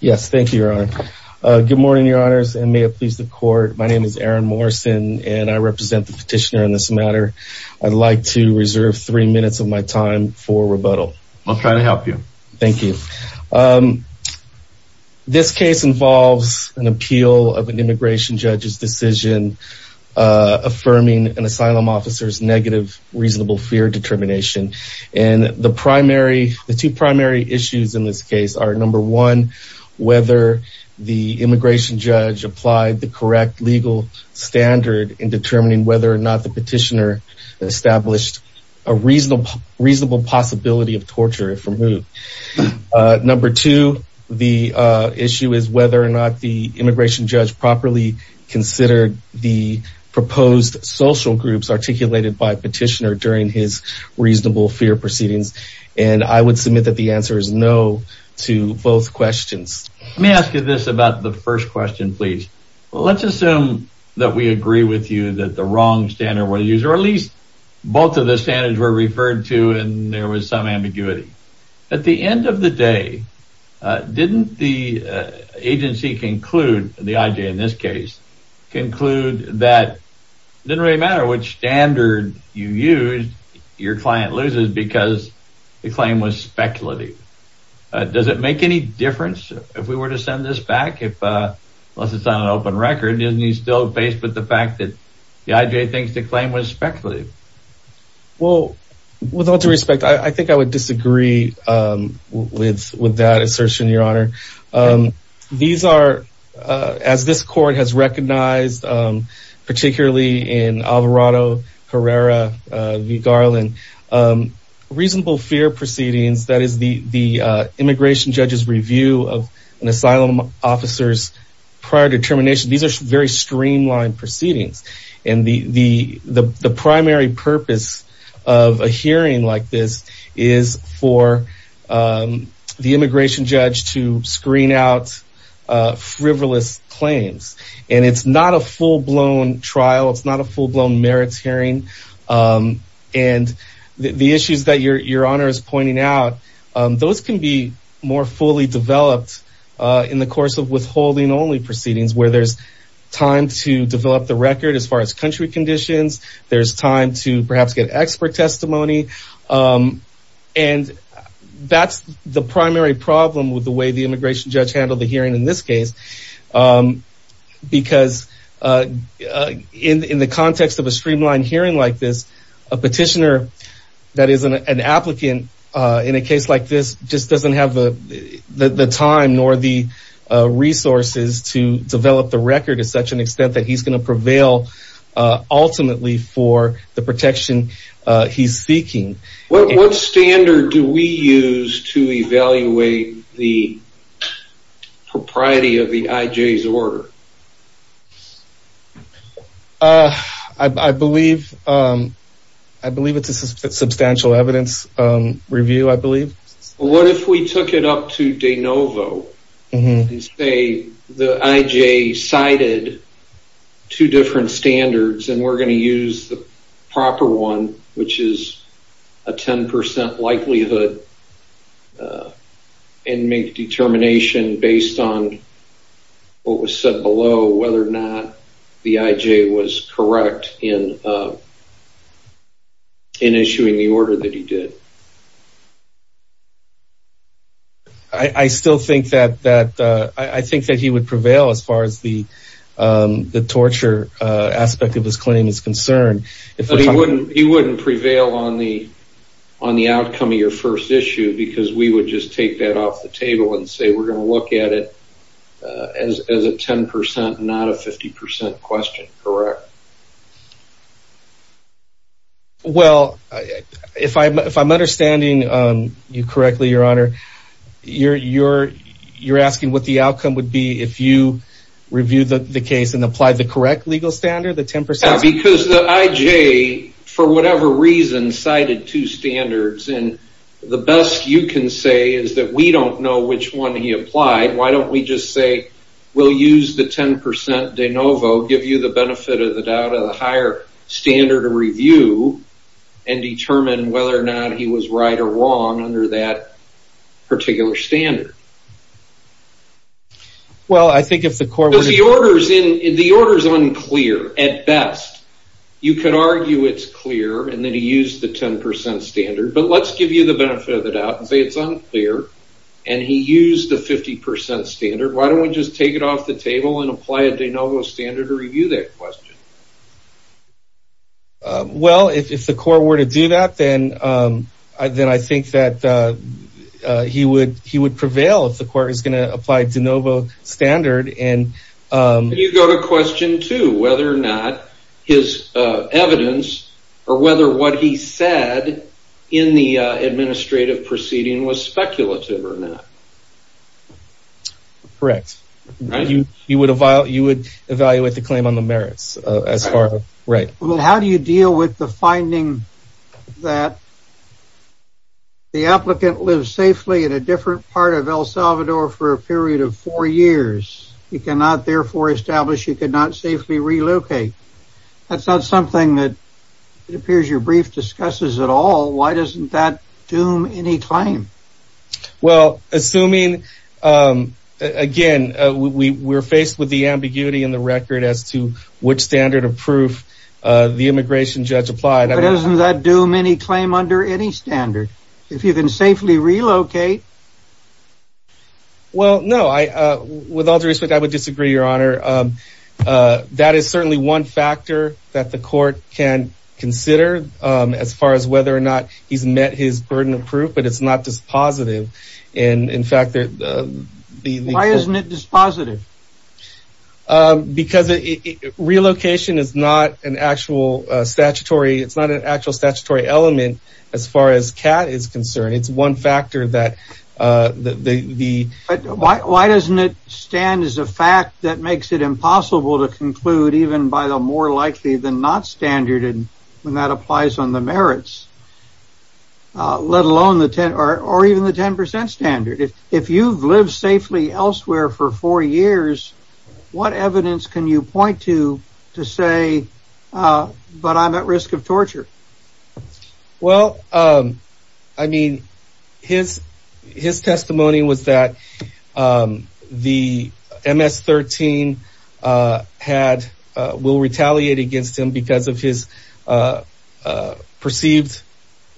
Yes, thank you, Your Honor. Good morning, Your Honors, and may it please the Court. My name is Aaron Morrison and I represent the petitioner in this matter. I'd like to reserve three minutes of my time for rebuttal. I'll try to help you. Thank you. This case involves an appeal of an immigration judge's decision affirming an asylum officer's negative reasonable fear determination. And the primary, the number one, whether the immigration judge applied the correct legal standard in determining whether or not the petitioner established a reasonable possibility of torture, if removed. Number two, the issue is whether or not the immigration judge properly considered the proposed social groups articulated by petitioner during his reasonable fear proceedings. And I would submit that the both questions. Let me ask you this about the first question, please. Well, let's assume that we agree with you that the wrong standard was used, or at least both of the standards were referred to and there was some ambiguity. At the end of the day, didn't the agency conclude, the IJ in this case, conclude that it didn't really matter which standard you used, your client loses because the claim was speculative. Does it make any difference if we were to send this back if, unless it's on an open record, isn't he still faced with the fact that the IJ thinks the claim was speculative? Well, with all due respect, I think I would disagree with with that assertion, your honor. These are, as this court has recognized, particularly in Alvarado, Herrera, v. Garland, reasonable fear proceedings, that is the immigration judge's review of an asylum officer's prior determination. These are very streamlined proceedings. And the primary purpose of a hearing like this is for the immigration judge to screen out frivolous claims. And it's not a full blown trial. It's not a full blown merits hearing. And the issues that your honor is pointing out, those can be more fully developed in the course of withholding only proceedings where there's time to develop the record as far as country conditions, there's time to perhaps get expert testimony. And that's the primary problem with the way the immigration judge handled the hearing in this case. Because in the context of a streamlined hearing like this, a petitioner that is an applicant in a case like this just doesn't have the time nor the resources to develop the record to such an extent that he's going to prevail, ultimately, for the protection he's seeking. What standard do we use to evaluate the propriety of the IJ's order? I believe, I believe it's a substantial evidence review, I believe. What if we took it up to de novo and say the IJ cited two different standards and we're going to use the proper one, which is a 10% likelihood, and make determination based on what was said below, whether or not the IJ was correct in issuing the order that he did. I still think that he would prevail as far as the torture aspect of his claim is concerned. But he wouldn't prevail on the outcome of your first issue because we would just take that off the table and say we're going to look at it as a 10%, not a 50% question, correct? Well, if I'm understanding you correctly, your honor, you're asking what the outcome would be if you review the case and apply the correct legal standard, the 10%? Because the IJ, for whatever reason, cited two standards and the best you can say is that we don't know which one he applied. Why don't we just say we'll use the 10% de novo, give you the benefit of the doubt of the higher standard of review, and determine whether or not he was right or wrong under that particular standard. Well, I think if the court... Because the order is unclear at best. You could argue it's clear and then he used the 10% standard, but let's give you the benefit of the doubt and say it's unclear. And he used the 50% standard. Why don't we just take it off the table and apply a de novo standard to review that question? Well, if the court were to do that, then I think that he would prevail if the court is going to apply de novo standard. You go to question two, whether or not his evidence or whether what he said in the administrative proceeding was speculative or not. Correct. You would evaluate the claim on the merits as far as... Right. How do you deal with the finding that the applicant lives safely in a different part of El Salvador for a period of four years? He cannot therefore establish he could not safely relocate. That's not something that it appears your brief discusses at all. Why doesn't that doom any claim? Well, assuming again, we were faced with the ambiguity in the record as to which standard of proof the immigration judge applied. Doesn't that doom any claim under any standard if you can safely relocate? Well, no, with all due respect, I would disagree, Your Honor. That is certainly one factor that the court can consider as far as whether or not he's met his burden of proof. But it's not dispositive. And in fact, why isn't it dispositive? Because relocation is not an actual statutory. It's not an actual statutory element as far as CAT is concerned. It's one factor that the... Why doesn't it stand as a fact that makes it impossible to conclude even by the more likely than not standard when that applies on the merits, let alone the 10 or even the 10 percent standard? If you've lived safely elsewhere for four years, what evidence can you point to to say, but I'm at risk of torture? Well, I mean, his testimony was that the MS-13 had, will retaliate against him because of his perceived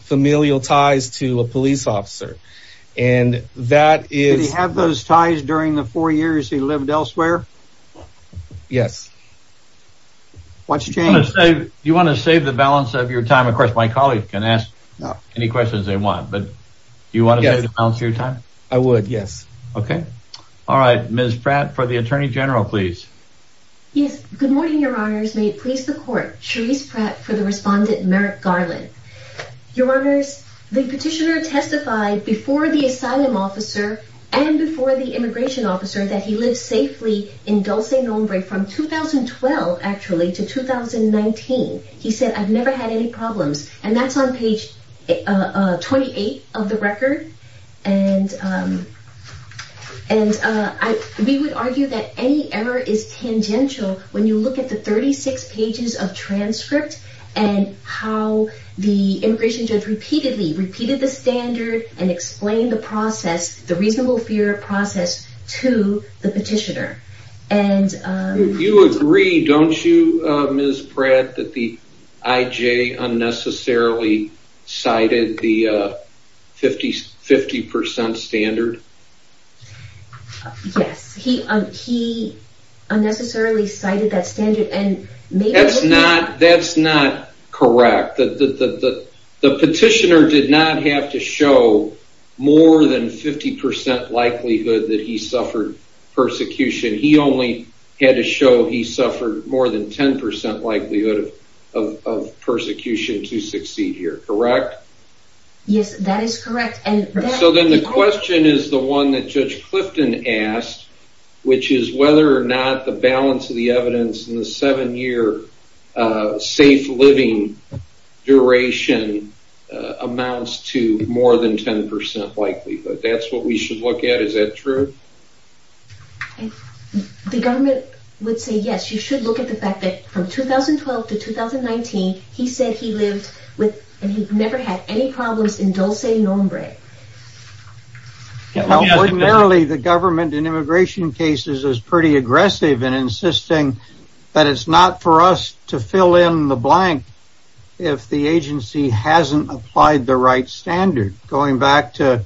familial ties to a police officer. And that is... Did he have those ties during the four years he lived elsewhere? Yes. What's changed? Do you want to save the balance of your time? Of course, my colleagues can ask any questions they want, but do you want to balance your time? I would. Yes. OK. All right. Ms. Pratt for the attorney general, please. Yes. Good morning, your honors. May it please the court. Cherise Pratt for the respondent, Merrick Garland. Your honors, the petitioner testified before the asylum officer and before the immigration officer that he lived safely in Dulce Nombre from 2012, actually, to 2019. He said, I've never had any problems. And that's on page 28 of the record. And we would argue that any error is tangential when you look at the 36 pages of transcript and how the immigration judge repeatedly repeated the standard and explained the process, the reasonable fear process to the petitioner. And you agree, don't you, Ms. Pratt, that the IJ unnecessarily cited the 50 percent standard? Yes, he unnecessarily cited that standard. And that's not that's not correct. The petitioner did not have to show more than 50 percent likelihood that he suffered persecution. He only had to show he suffered more than 10 percent likelihood of persecution to succeed here. Correct? Yes, that is correct. And so then the question is the one that Judge Clifton asked, which is whether or not the balance of the evidence in the seven year safe living duration amounts to more than 10 percent likelihood. That's what we should look at. Is that true? The government would say, yes, you should look at the fact that from 2012 to 2019, he said he lived with and he never had any problems in Dulce Nombre. Now, ordinarily, the government in immigration cases is pretty aggressive and insisting that it's not for us to fill in the blank if the agency hasn't applied the right standard. Going back to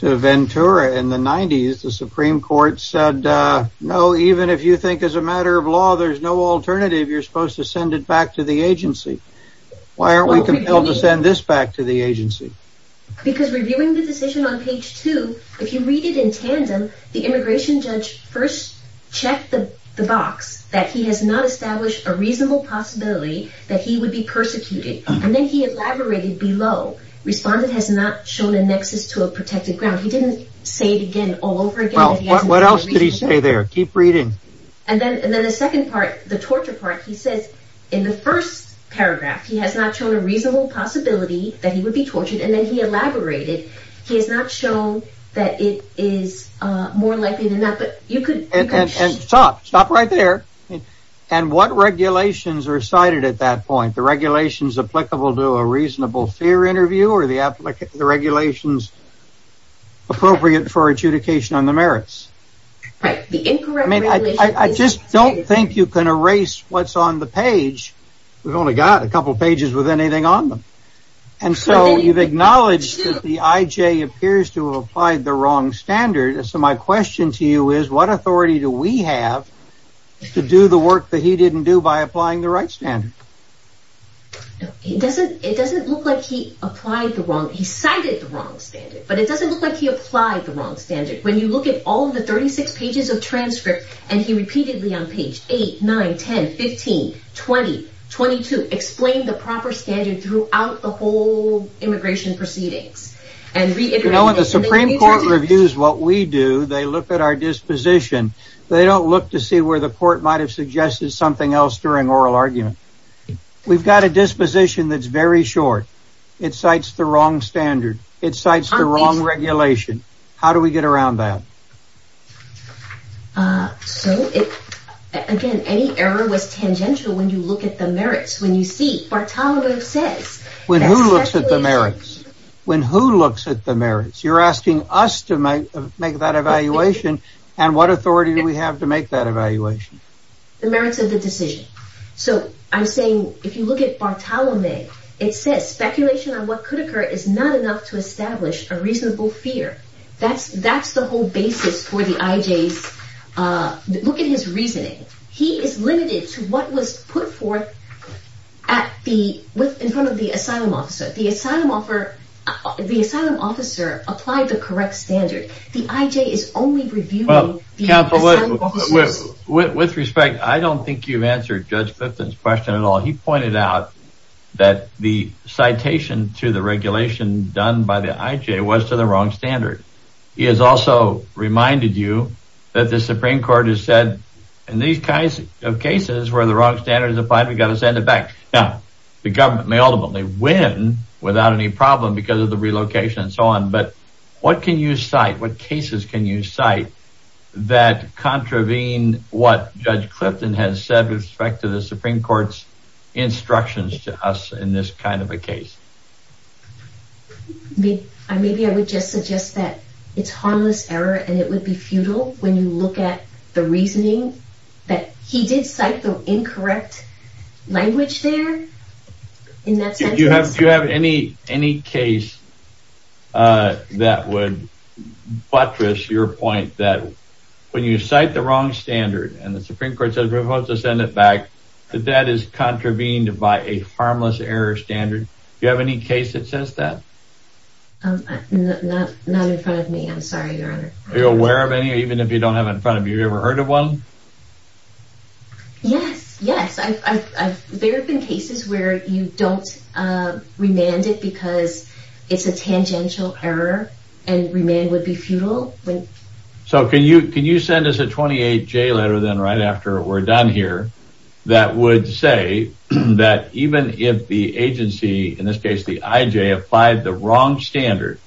Ventura in the 90s, the Supreme Court said, no, even if you think as a matter of law, there's no alternative. You're supposed to send it back to the agency. Because reviewing the decision on page two, if you read it in tandem, the immigration judge first checked the box that he has not established a reasonable possibility that he would be persecuted. And then he elaborated below, respondent has not shown a nexus to a protected ground. He didn't say it again all over again. Well, what else did he say there? Keep reading. And then and then the second part, the torture part, he says in the first paragraph, he has not shown a reasonable possibility that he would be tortured. And then he elaborated. He has not shown that it is more likely than that. But you could stop. Stop right there. And what regulations are cited at that point? The regulations applicable to a reasonable fear interview or the applicant, the regulations appropriate for adjudication on the merits. Right. The incorrect. I mean, I just don't think you can erase what's on the page. We've only got a couple of pages with anything on them. And so you've acknowledged that the IJ appears to have applied the wrong standard. So my question to you is, what authority do we have to do the work that he didn't do by applying the right standard? It doesn't it doesn't look like he applied the wrong he cited the wrong standard, but it doesn't look like he applied the wrong standard. When you look at all of the 36 pages of transcript and he repeatedly on page eight, nine, 10, 15, 20, 22, explain the proper standard throughout the whole immigration proceedings and reiterate the Supreme Court reviews what we do. They look at our disposition. They don't look to see where the court might have suggested something else during oral argument. We've got a disposition that's very short. It cites the wrong standard. It cites the wrong regulation. How do we get around that? So, again, any error was tangential when you look at the merits, when you see Bartolomeu says when who looks at the merits, when who looks at the merits, you're asking us to make that evaluation. And what authority do we have to make that evaluation? The merits of the decision. So I'm saying if you look at Bartolomeu, it says speculation on what could occur is not enough to establish a reasonable fear. That's that's the whole basis for the IJs. Look at his reasoning. He is limited to what was put forth at the with in front of the asylum officer. The asylum offer, the asylum officer applied the correct standard. The IJ is only reviewing the asylum officers. With respect, I don't think you've answered Judge Bifton's question at all. He pointed out that the citation to the regulation done by the IJ was to the wrong standard. He has also reminded you that the Supreme Court has said in these kinds of cases where the wrong standard is applied, we've got to send it back. Now, the government may ultimately win without any problem because of the relocation and so on. But what can you cite? What cases can you cite that contravene what Judge Clifton has said with respect to the instructions to us in this kind of a case? Maybe I would just suggest that it's harmless error and it would be futile when you look at the reasoning that he did cite the incorrect language there. In that sense, you have to have any any case that would buttress your point that when you contravened by a harmless error standard, do you have any case that says that? Not not in front of me. I'm sorry, Your Honor. Are you aware of any, even if you don't have in front of you, you've ever heard of one? Yes, yes. There have been cases where you don't remand it because it's a tangential error and remand would be futile. So can you can you send us a 28-J letter then right after we're done here that would say that even if the agency, in this case the IJ, applied the wrong standard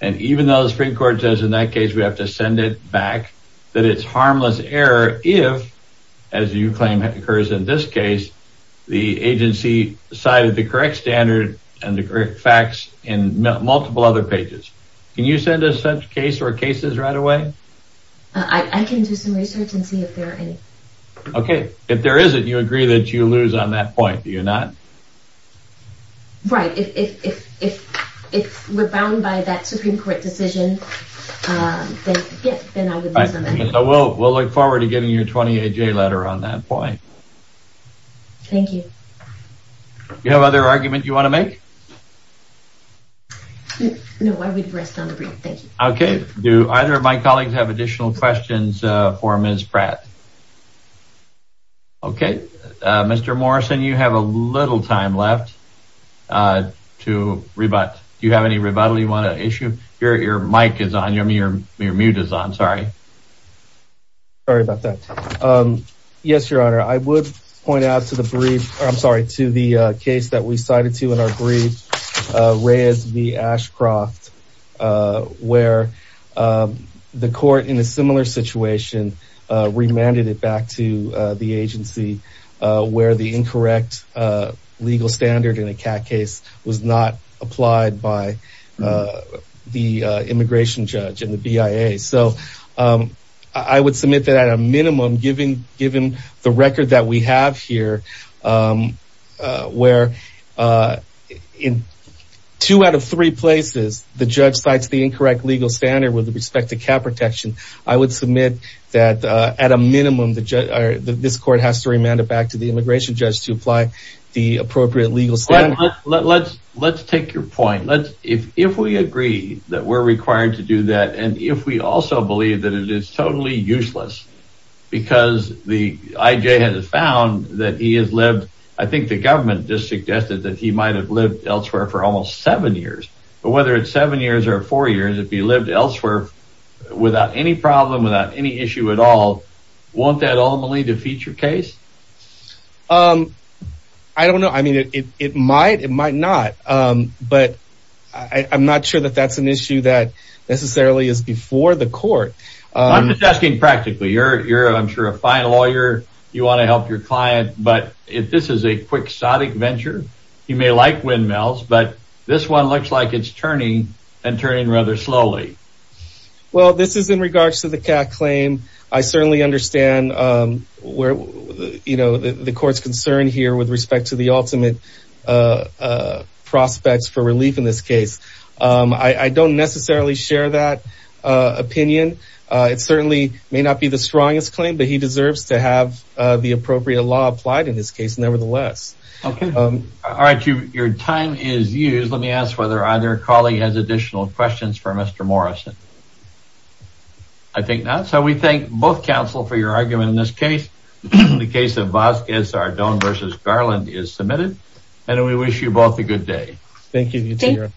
and even though the Supreme Court says in that case we have to send it back, that it's harmless error if, as you claim occurs in this case, the agency cited the correct standard and the correct facts in multiple other pages. Can you send us such case or cases right away? I can do some research and see if there are any. OK, if there isn't, you agree that you lose on that point, do you not? Right. If if if if we're bound by that Supreme Court decision, then yes, then I would lose on that. So we'll look forward to getting your 28-J letter on that point. Thank you. You have other argument you want to make? No, I would rest on the brief, thank you. OK. Do either of my colleagues have additional questions for Ms. Pratt? OK, Mr. Morrison, you have a little time left to rebut. Do you have any rebuttal you want to issue? Your mic is on, your mute is on, sorry. Sorry about that. Yes, Your Honor, I would point out to the brief, I'm sorry, to the case that we raised the Ashcroft where the court in a similar situation remanded it back to the agency where the incorrect legal standard in a CAT case was not applied by the immigration judge and the BIA. So I would submit that at a minimum, given given the record that we have here, where in two out of three places, the judge cites the incorrect legal standard with respect to CAT protection, I would submit that at a minimum, this court has to remand it back to the immigration judge to apply the appropriate legal standard. Let's let's take your point. Let's if if we agree that we're required to do that and if we also believe that it is totally useless because the IJ has found that he has lived, I think the government just suggested that he might have lived elsewhere for almost seven years. But whether it's seven years or four years, if he lived elsewhere without any problem, without any issue at all, won't that ultimately defeat your case? Um, I don't know. I mean, it might it might not. But I'm not sure that that's an issue that necessarily is before the court. I'm just asking practically, you're you're I'm sure a fine lawyer, you want to help your client. But if this is a quixotic venture, you may like windmills. But this one looks like it's turning and turning rather slowly. Well, this is in regards to the CAT claim. I certainly understand where, you know, the court's concern here with respect to the ultimate prospects for relief in this case. I don't necessarily share that opinion. It certainly may not be the strongest claim, but he deserves to have the appropriate law applied in this case, nevertheless. OK, all right. Your time is used. Let me ask whether either colleague has additional questions for Mr. Morrison. I think not. So we thank both counsel for your argument in this case. The case of Vasquez Ardon versus Garland is submitted and we wish you both a good day. Thank you.